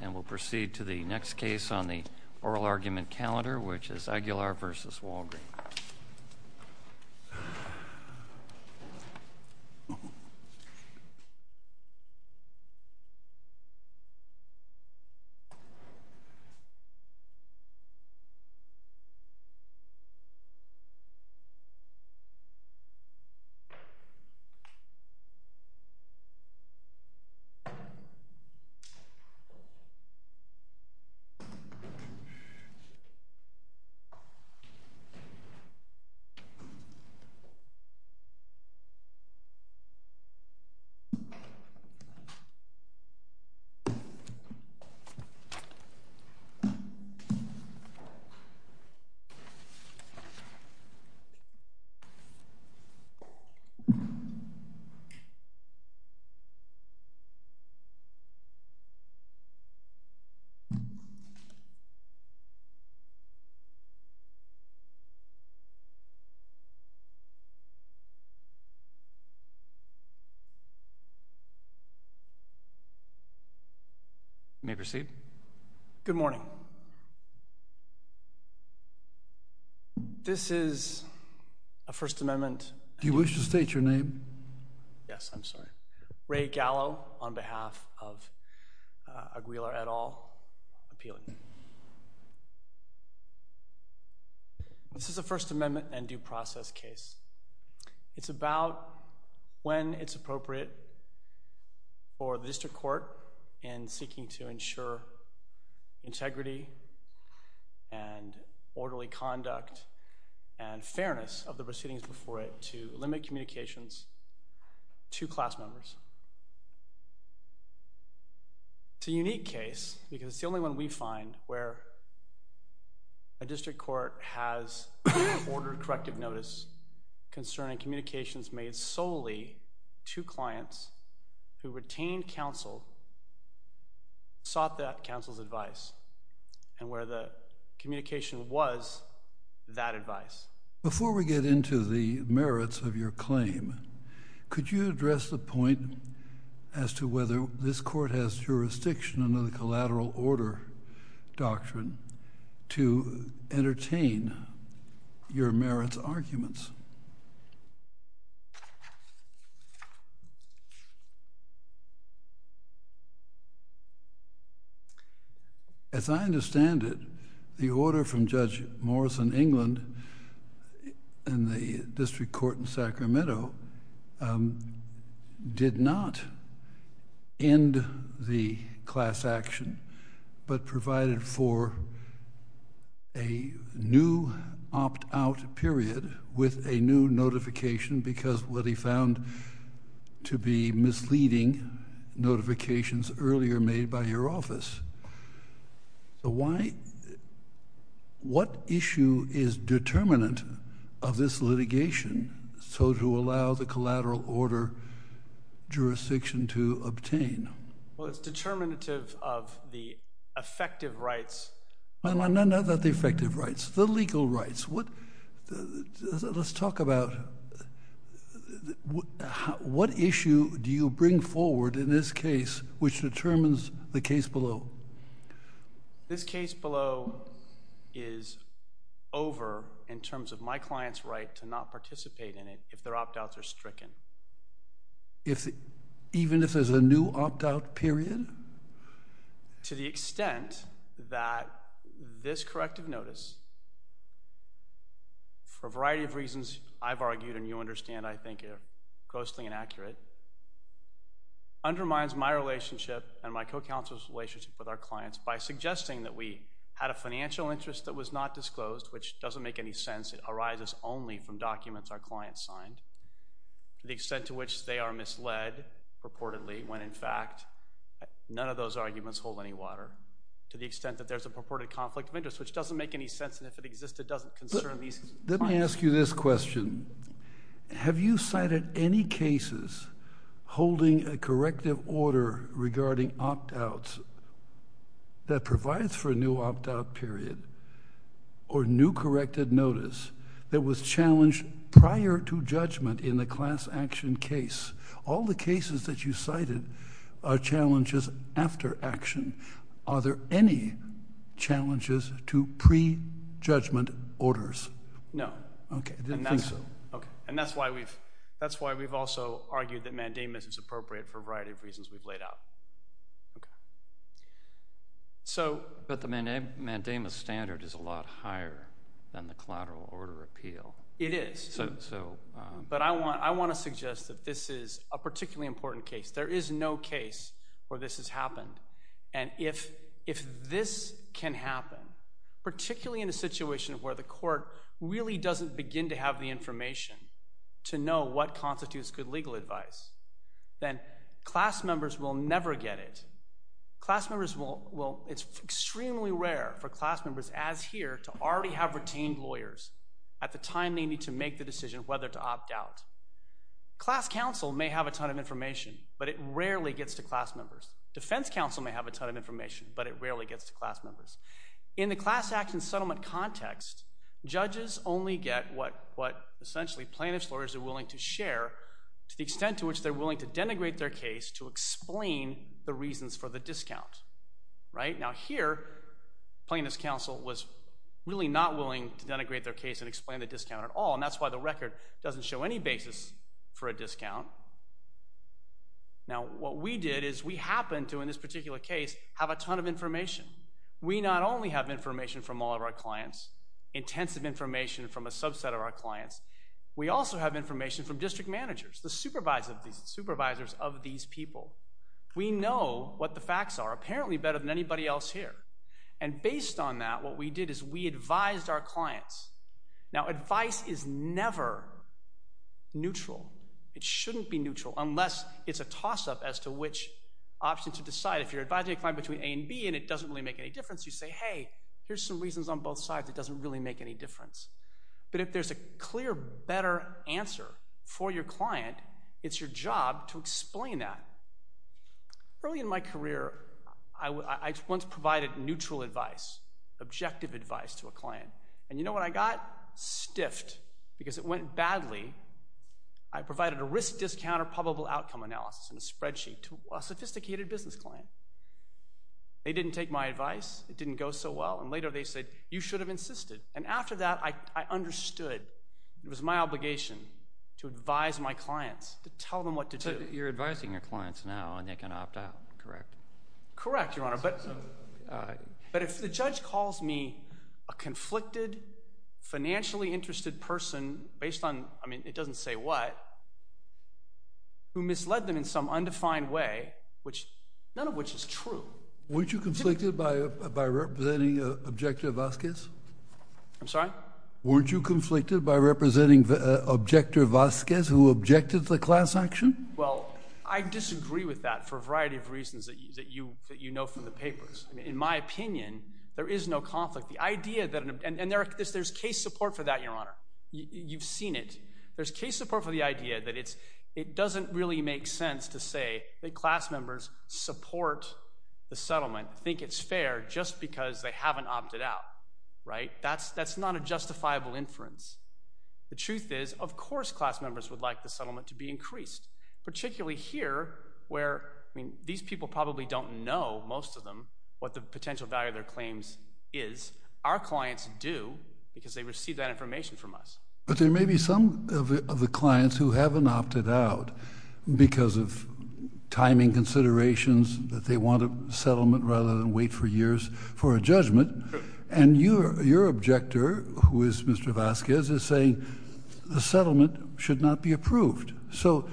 And we'll proceed to the next case on the oral argument calendar, which is Aguilar v. Walgreen. Aguilar v. Walgreen May proceed. Good morning. This is a First Amendment. Do you wish to state your name? Yes, I'm sorry. Ray Gallo on behalf of Aguilar et al. Appeal. This is a First Amendment and due process case. It's about when it's appropriate for the district court in seeking to ensure integrity and orderly It's a unique case because it's the only one we find where a district court has ordered corrective notice concerning communications made solely to clients who retained counsel, sought that counsel's advice, and where the communication was that advice. Before we get into the merits of your claim, could you address the point as to whether this court has jurisdiction under the collateral order doctrine to entertain your merits arguments? Yes. As I understand it, the order from Judge Morrison England in the district court in Sacramento did not end the class action but provided for a new opt-out period with a new notification because what he found to be misleading notifications earlier made by your office. What issue is determinant of this litigation so to allow the collateral order jurisdiction to obtain? It's determinative of the effective rights. Not the effective rights, the legal rights. Let's talk about what issue do you bring forward in this case which determines the case below? This case below is over in terms of my client's right to not participate in it if their opt-outs are stricken. Even if there's a new opt-out period? To the extent that this corrective notice, for a variety of reasons I've argued and you understand I think are grossly inaccurate, undermines my relationship and my co-counsel's relationship with our clients by suggesting that we had a financial interest that was not disclosed, which doesn't make any sense. It arises only from documents our clients signed, the extent to which they are misled purportedly when in fact none of those arguments hold any water to the extent that there's a purported conflict of interest, which doesn't make any sense and if it existed doesn't concern these clients. Let me ask you this question. Have you cited any cases holding a corrective order regarding opt-outs that provides for a new opt-out period or new corrected notice that was challenged prior to judgment in the class action case? All the cases that you cited are challenges after action. Are there any challenges to pre-judgment orders? No. Okay, I didn't think so. And that's why we've also argued that mandamus is appropriate for a variety of reasons we've laid out. But the mandamus standard is a lot higher than the collateral order appeal. It is, but I want to suggest that this is a particularly important case. There is no case where this has happened, and if this can happen, particularly in a situation where the court really doesn't begin to have the information to know what constitutes good legal advice, then class members will never get it. It's extremely rare for class members, as here, to already have retained lawyers at the time they need to make the decision whether to opt out. Class counsel may have a ton of information, but it rarely gets to class members. Defense counsel may have a ton of information, but it rarely gets to class members. In the class action settlement context, judges only get what essentially plaintiff's lawyers are willing to share to the extent to which they're willing to denigrate their case to explain the reasons for the discount. Now here, plaintiff's counsel was really not willing to denigrate their case and explain the discount at all, and that's why the record doesn't show any basis for a discount. Now what we did is we happened to, in this particular case, have a ton of information. We not only have information from all of our clients, intensive information from a subset of our clients, we also have information from district managers, the supervisors of these people. We know what the facts are apparently better than anybody else here, and based on that, what we did is we advised our clients. Now advice is never neutral. It shouldn't be neutral unless it's a toss-up as to which option to decide. If you're advising a client between A and B and it doesn't really make any difference, you say, hey, here's some reasons on both sides that doesn't really make any difference. But if there's a clear, better answer for your client, it's your job to explain that. Early in my career, I once provided neutral advice, objective advice to a client, and you know what I got? Stiffed because it went badly. I provided a risk-discounter probable outcome analysis and a spreadsheet to a sophisticated business client. They didn't take my advice. It didn't go so well. And later they said, you should have insisted. And after that, I understood it was my obligation to advise my clients, to tell them what to do. So you're advising your clients now and they can opt out, correct? Correct, Your Honor. But if the judge calls me a conflicted, financially interested person based on—I mean, it doesn't say what— who misled them in some undefined way, which—none of which is true. Weren't you conflicted by representing Objector Vasquez? I'm sorry? Weren't you conflicted by representing Objector Vasquez who objected to the class action? Well, I disagree with that for a variety of reasons that you know from the papers. In my opinion, there is no conflict. The idea that—and there's case support for that, Your Honor. You've seen it. There's case support for the idea that it doesn't really make sense to say that class members support the settlement, think it's fair just because they haven't opted out, right? That's not a justifiable inference. The truth is, of course, class members would like the settlement to be increased, particularly here where—I mean, these people probably don't know, most of them, what the potential value of their claims is. Our clients do because they receive that information from us. But there may be some of the clients who haven't opted out because of timing considerations that they want a settlement rather than wait for years for a judgment. And your Objector, who is Mr. Vasquez, is saying the settlement should not be approved. So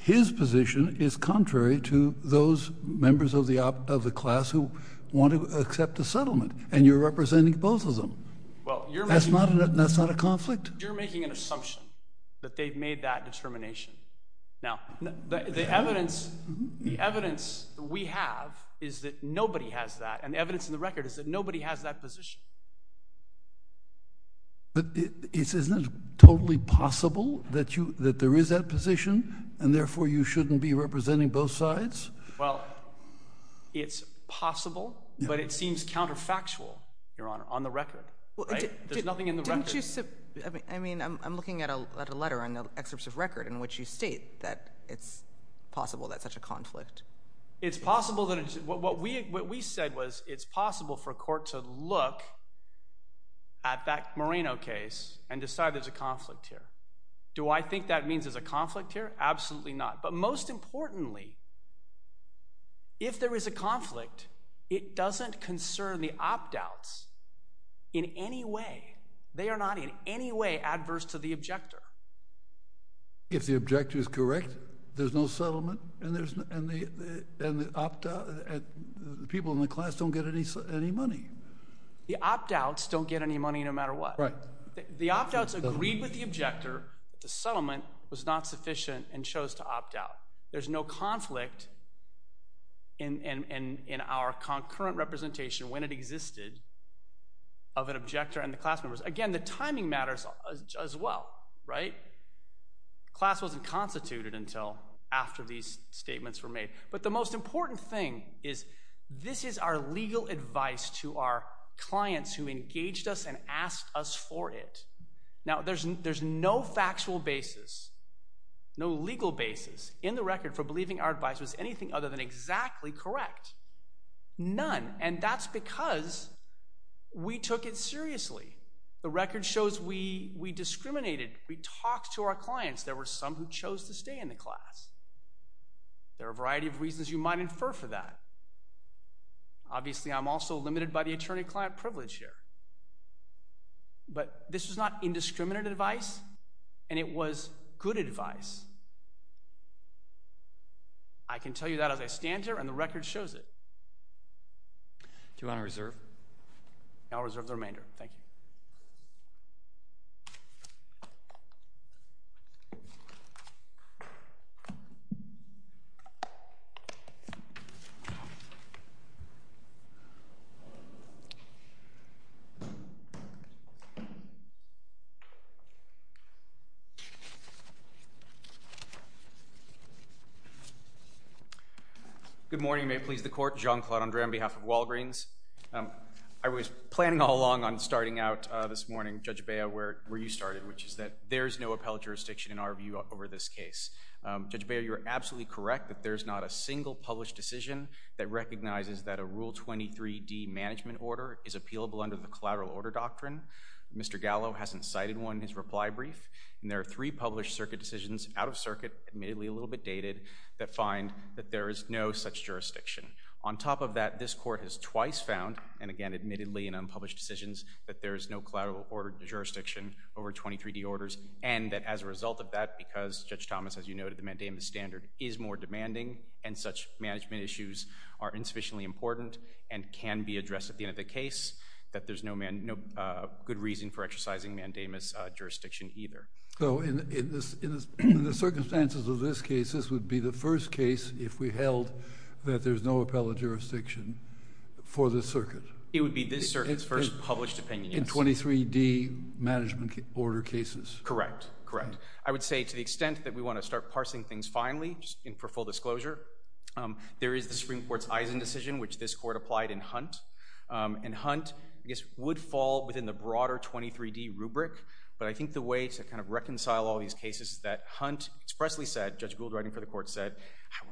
his position is contrary to those members of the class who want to accept the settlement, and you're representing both of them. That's not a conflict? You're making an assumption that they've made that determination. Now, the evidence we have is that nobody has that, and the evidence in the record is that nobody has that position. But isn't it totally possible that there is that position and therefore you shouldn't be representing both sides? Well, it's possible, but it seems counterfactual, Your Honor, on the record, right? There's nothing in the record. I mean, I'm looking at a letter in the excerpts of record What we said was it's possible for a court to look at that Moreno case and decide there's a conflict here. Do I think that means there's a conflict here? Absolutely not. But most importantly, if there is a conflict, it doesn't concern the opt-outs in any way. They are not in any way adverse to the Objector. If the Objector is correct, there's no settlement, and the people in the class don't get any money. The opt-outs don't get any money no matter what. Right. The opt-outs agreed with the Objector. The settlement was not sufficient and chose to opt-out. There's no conflict in our concurrent representation, when it existed, of an Objector and the class members. Again, the timing matters as well, right? The class wasn't constituted until after these statements were made. But the most important thing is this is our legal advice to our clients who engaged us and asked us for it. Now, there's no factual basis, no legal basis, in the record, for believing our advice was anything other than exactly correct. None. And that's because we took it seriously. The record shows we discriminated. We talked to our clients. There were some who chose to stay in the class. There are a variety of reasons you might infer for that. Obviously, I'm also limited by the attorney-client privilege here. But this was not indiscriminate advice, and it was good advice. I can tell you that as I stand here, and the record shows it. Do you want to reserve? I'll reserve the remainder. Thank you. Good morning. May it please the Court. Jean-Claude Andre on behalf of Walgreens. I was planning all along on starting out this morning, Judge Bea, where you started, which is that there's no appellate jurisdiction, in our view, over this case. Judge Bea, you're absolutely correct that there's not a single published decision that recognizes that a Rule 23d management order is appealable under the collateral order doctrine. Mr. Gallo hasn't cited one in his reply brief. There are three published circuit decisions out of circuit, admittedly a little bit dated, that find that there is no such jurisdiction. On top of that, this Court has twice found, and again admittedly in unpublished decisions, that there is no collateral order jurisdiction over 23d orders, and that as a result of that, because, Judge Thomas, as you noted, the mandamus standard is more demanding, and such management issues are insufficiently important and can be addressed at the end of the case, that there's no good reason for exercising mandamus jurisdiction either. So, in the circumstances of this case, this would be the first case, if we held, that there's no appellate jurisdiction for this circuit? It would be this circuit's first published opinion, yes. In 23d management order cases? Correct, correct. I would say, to the extent that we want to start parsing things finally, just for full disclosure, there is the Supreme Court's Eisen decision, which this Court applied in Hunt. And Hunt, I guess, would fall within the broader 23d rubric, but I think the way to kind of reconcile all these cases is that Hunt expressly said, Judge Gould writing for the Court said,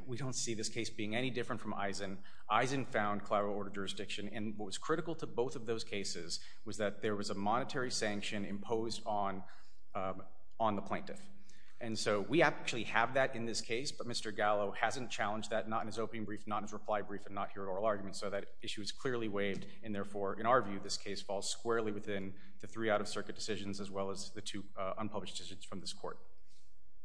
we don't see this case being any different from Eisen. Eisen found collateral order jurisdiction, and what was critical to both of those cases was that there was a monetary sanction imposed on the plaintiff. And so, we actually have that in this case, but Mr. Gallo hasn't challenged that, not in his opening brief, not in his reply brief, and not here at oral argument, so that issue is clearly waived, and therefore, in our view, this case falls squarely within the three out-of-circuit decisions as well as the two unpublished decisions from this Court.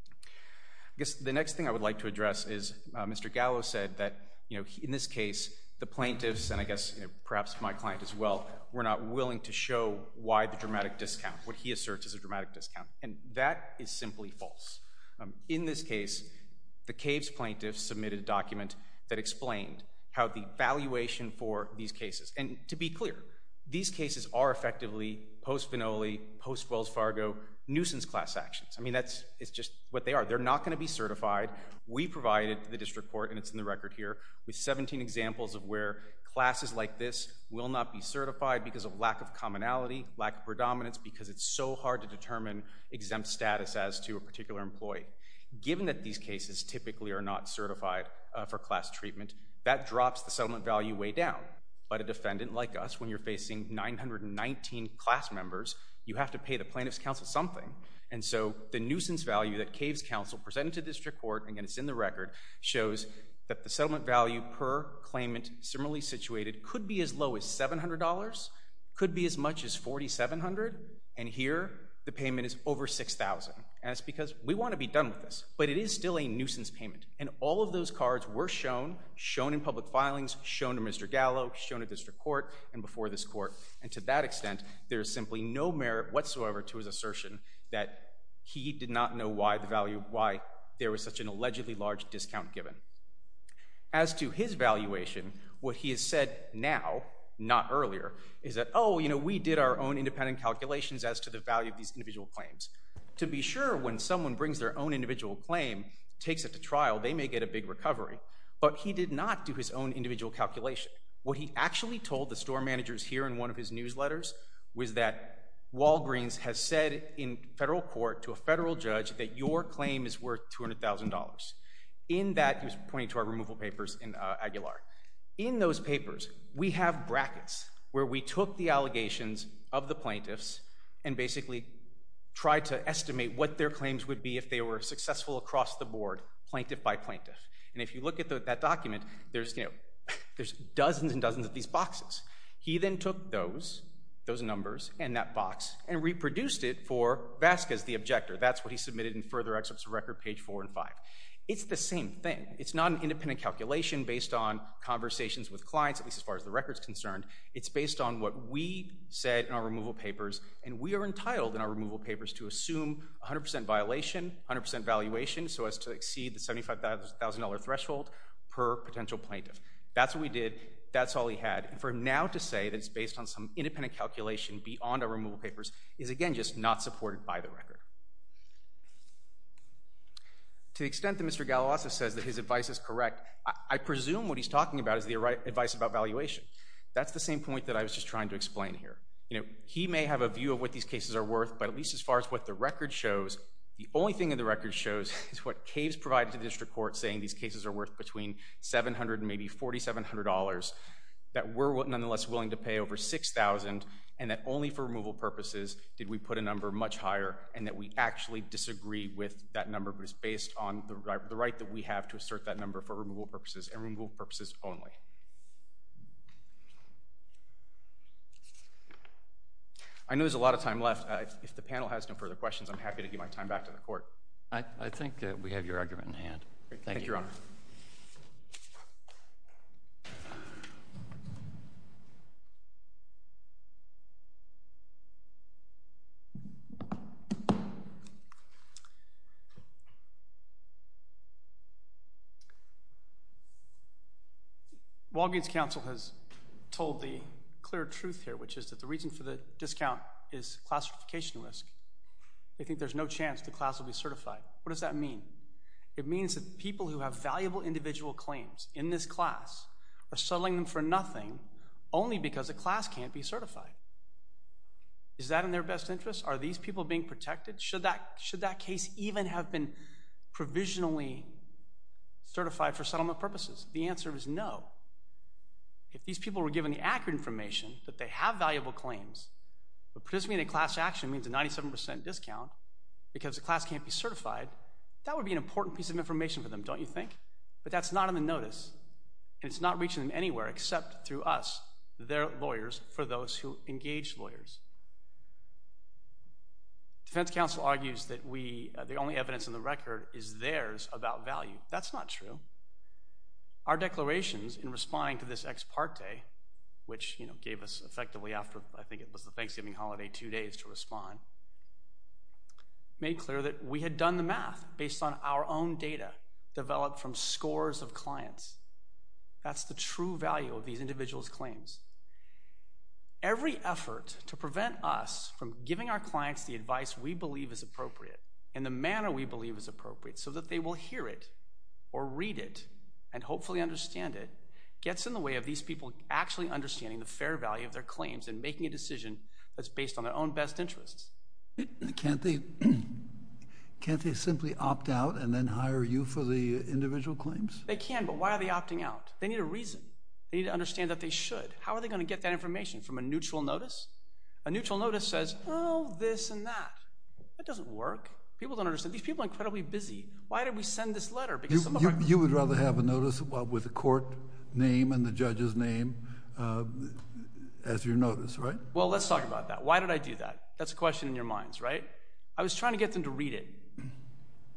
I guess the next thing I would like to address is Mr. Gallo said that, in this case, the plaintiffs, and I guess perhaps my client as well, were not willing to show why the dramatic discount, what he asserts is a dramatic discount, and that is simply false. In this case, the Caves plaintiffs submitted a document that explained how the valuation for these cases, and to be clear, these cases are effectively post-Vinoli, post-Wells Fargo, nuisance class actions. I mean, that's just what they are. They're not going to be certified. We provided the District Court, and it's in the record here, with 17 examples of where classes like this will not be certified because of lack of commonality, lack of predominance, because it's so hard to determine exempt status as to a particular employee. Given that these cases typically are not certified for class treatment, that drops the settlement value way down. But a defendant like us, when you're facing 919 class members, you have to pay the plaintiffs' counsel something. And so the nuisance value that Caves counsel presented to the District Court, again, it's in the record, shows that the settlement value per claimant similarly situated could be as low as $700, could be as much as $4,700, and here the payment is over $6,000. And it's because we want to be done with this, but it is still a nuisance payment. And all of those cards were shown, shown in public filings, shown to Mr. Gallo, shown to District Court, and before this Court. And to that extent, there is simply no merit whatsoever to his assertion that he did not know why there was such an allegedly large discount given. As to his valuation, what he has said now, not earlier, is that, oh, you know, we did our own independent calculations as to the value of these individual claims. To be sure, when someone brings their own individual claim, takes it to trial, they may get a big recovery. But he did not do his own individual calculation. What he actually told the store managers here in one of his newsletters was that Walgreens has said in federal court to a federal judge that your claim is worth $200,000. In that, he was pointing to our removal papers in Aguilar. In those papers, we have brackets where we took the allegations of the plaintiffs and basically tried to estimate what their claims would be if they were successful across the board, plaintiff by plaintiff. And if you look at that document, there's dozens and dozens of these boxes. He then took those, those numbers, and that box, and reproduced it for Vasquez, the objector. That's what he submitted in further excerpts of record, page 4 and 5. It's the same thing. It's not an independent calculation based on conversations with clients, at least as far as the record is concerned. It's based on what we said in our removal papers, and we are entitled in our removal papers to assume 100% violation, 100% valuation, so as to exceed the $75,000 threshold per potential plaintiff. That's what we did. That's all he had. And for him now to say that it's based on some independent calculation beyond our removal papers is, again, just not supported by the record. To the extent that Mr. Galilasa says that his advice is correct, I presume what he's talking about is the advice about valuation. That's the same point that I was just trying to explain here. He may have a view of what these cases are worth, but at least as far as what the record shows, the only thing that the record shows is what CAVES provided to the district court saying these cases are worth between $700 and maybe $4,700, that we're nonetheless willing to pay over $6,000, and that only for removal purposes did we put a number much higher, and that we actually disagree with that number, but it's based on the right that we have to assert that number for removal purposes and removal purposes only. I know there's a lot of time left. If the panel has no further questions, I'm happy to give my time back to the court. I think we have your argument in hand. Thank you. Thank you, Your Honor. Thank you. Walgreens Council has told the clear truth here, which is that the reason for the discount is classification risk. They think there's no chance the class will be certified. What does that mean? It means that people who have valuable individual claims in this class are settling them for nothing only because a class can't be certified. Is that in their best interest? Are these people being protected? Should that case even have been provisionally certified for settlement purposes? The answer is no. If these people were given the accurate information that they have valuable claims, but participating in a class action means a 97 percent discount because a class can't be certified, that would be an important piece of information for them, don't you think? But that's not in the notice, and it's not reaching them anywhere except through us, their lawyers, for those who engage lawyers. Defense counsel argues that the only evidence in the record is theirs about value. That's not true. Our declarations in responding to this ex parte, which gave us effectively after, I think it was the Thanksgiving holiday, two days to respond, made clear that we had done the math based on our own data developed from scores of clients. That's the true value of these individuals' claims. Every effort to prevent us from giving our clients the advice we believe is appropriate in the manner we believe is appropriate, so that they will hear it or read it and hopefully understand it, gets in the way of these people actually understanding the fair value of their claims and making a decision that's based on their own best interests. Can't they simply opt out and then hire you for the individual claims? They can, but why are they opting out? They need a reason. They need to understand that they should. How are they going to get that information? From a neutral notice? A neutral notice says, oh, this and that. That doesn't work. These people are incredibly busy. Why did we send this letter? You would rather have a notice with a court name and the judge's name as your notice, right? Well, let's talk about that. Why did I do that? That's a question in your minds, right? I was trying to get them to read it.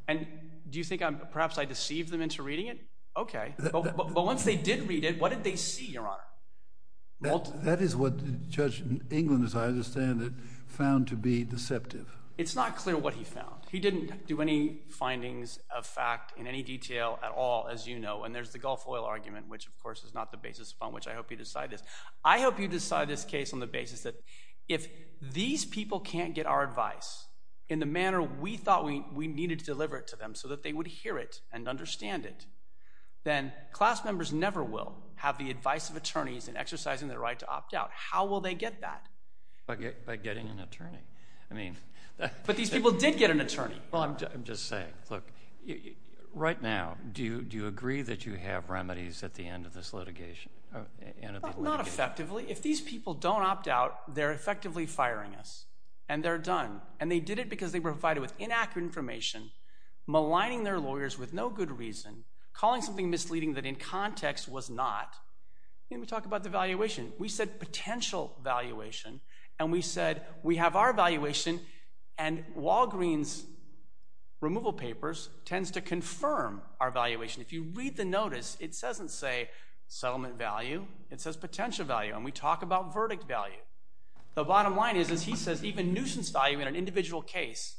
And do you think perhaps I deceived them into reading it? Okay. But once they did read it, what did they see, Your Honor? That is what Judge England, as I understand it, found to be deceptive. It's not clear what he found. He didn't do any findings of fact in any detail at all, as you know. And there's the Gulf Oil argument, which, of course, is not the basis upon which I hope you decide this. I hope you decide this case on the basis that if these people can't get our advice in the manner we thought we needed to deliver it to them so that they would hear it and understand it, then class members never will have the advice of attorneys in exercising their right to opt out. How will they get that? By getting an attorney. But these people did get an attorney. Well, I'm just saying. Look, right now, do you agree that you have remedies at the end of this litigation? Not effectively. If these people don't opt out, they're effectively firing us, and they're done. And they did it because they were provided with inaccurate information, maligning their lawyers with no good reason, calling something misleading that in context was not. And we talk about devaluation. We said potential valuation, and we said we have our valuation, and Walgreen's removal papers tends to confirm our valuation. If you read the notice, it doesn't say settlement value. It says potential value, and we talk about verdict value. The bottom line is he says even nuisance value in an individual case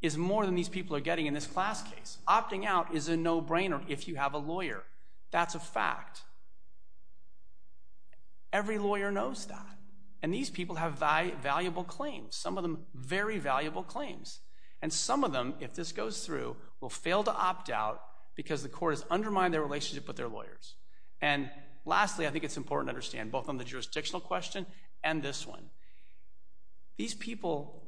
is more than these people are getting in this class case. Opting out is a no-brainer if you have a lawyer. That's a fact. Every lawyer knows that, and these people have valuable claims, some of them very valuable claims. And some of them, if this goes through, will fail to opt out because the court has undermined their relationship with their lawyers. And lastly, I think it's important to understand both on the jurisdictional question and this one. These people,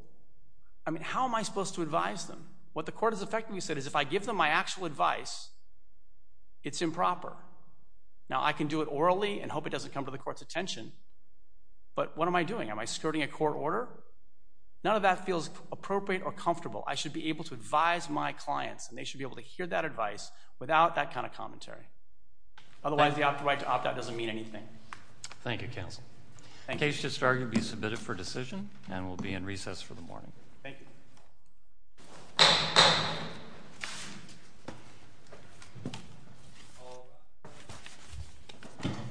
I mean, how am I supposed to advise them? What the court has effectively said is if I give them my actual advice, it's improper. Now, I can do it orally and hope it doesn't come to the court's attention, but what am I doing? Am I skirting a court order? None of that feels appropriate or comfortable. I should be able to advise my clients, and they should be able to hear that advice without that kind of commentary. Otherwise, the right to opt out doesn't mean anything. Thank you, counsel. The case should start to be submitted for decision and will be in recess for the morning. Thank you.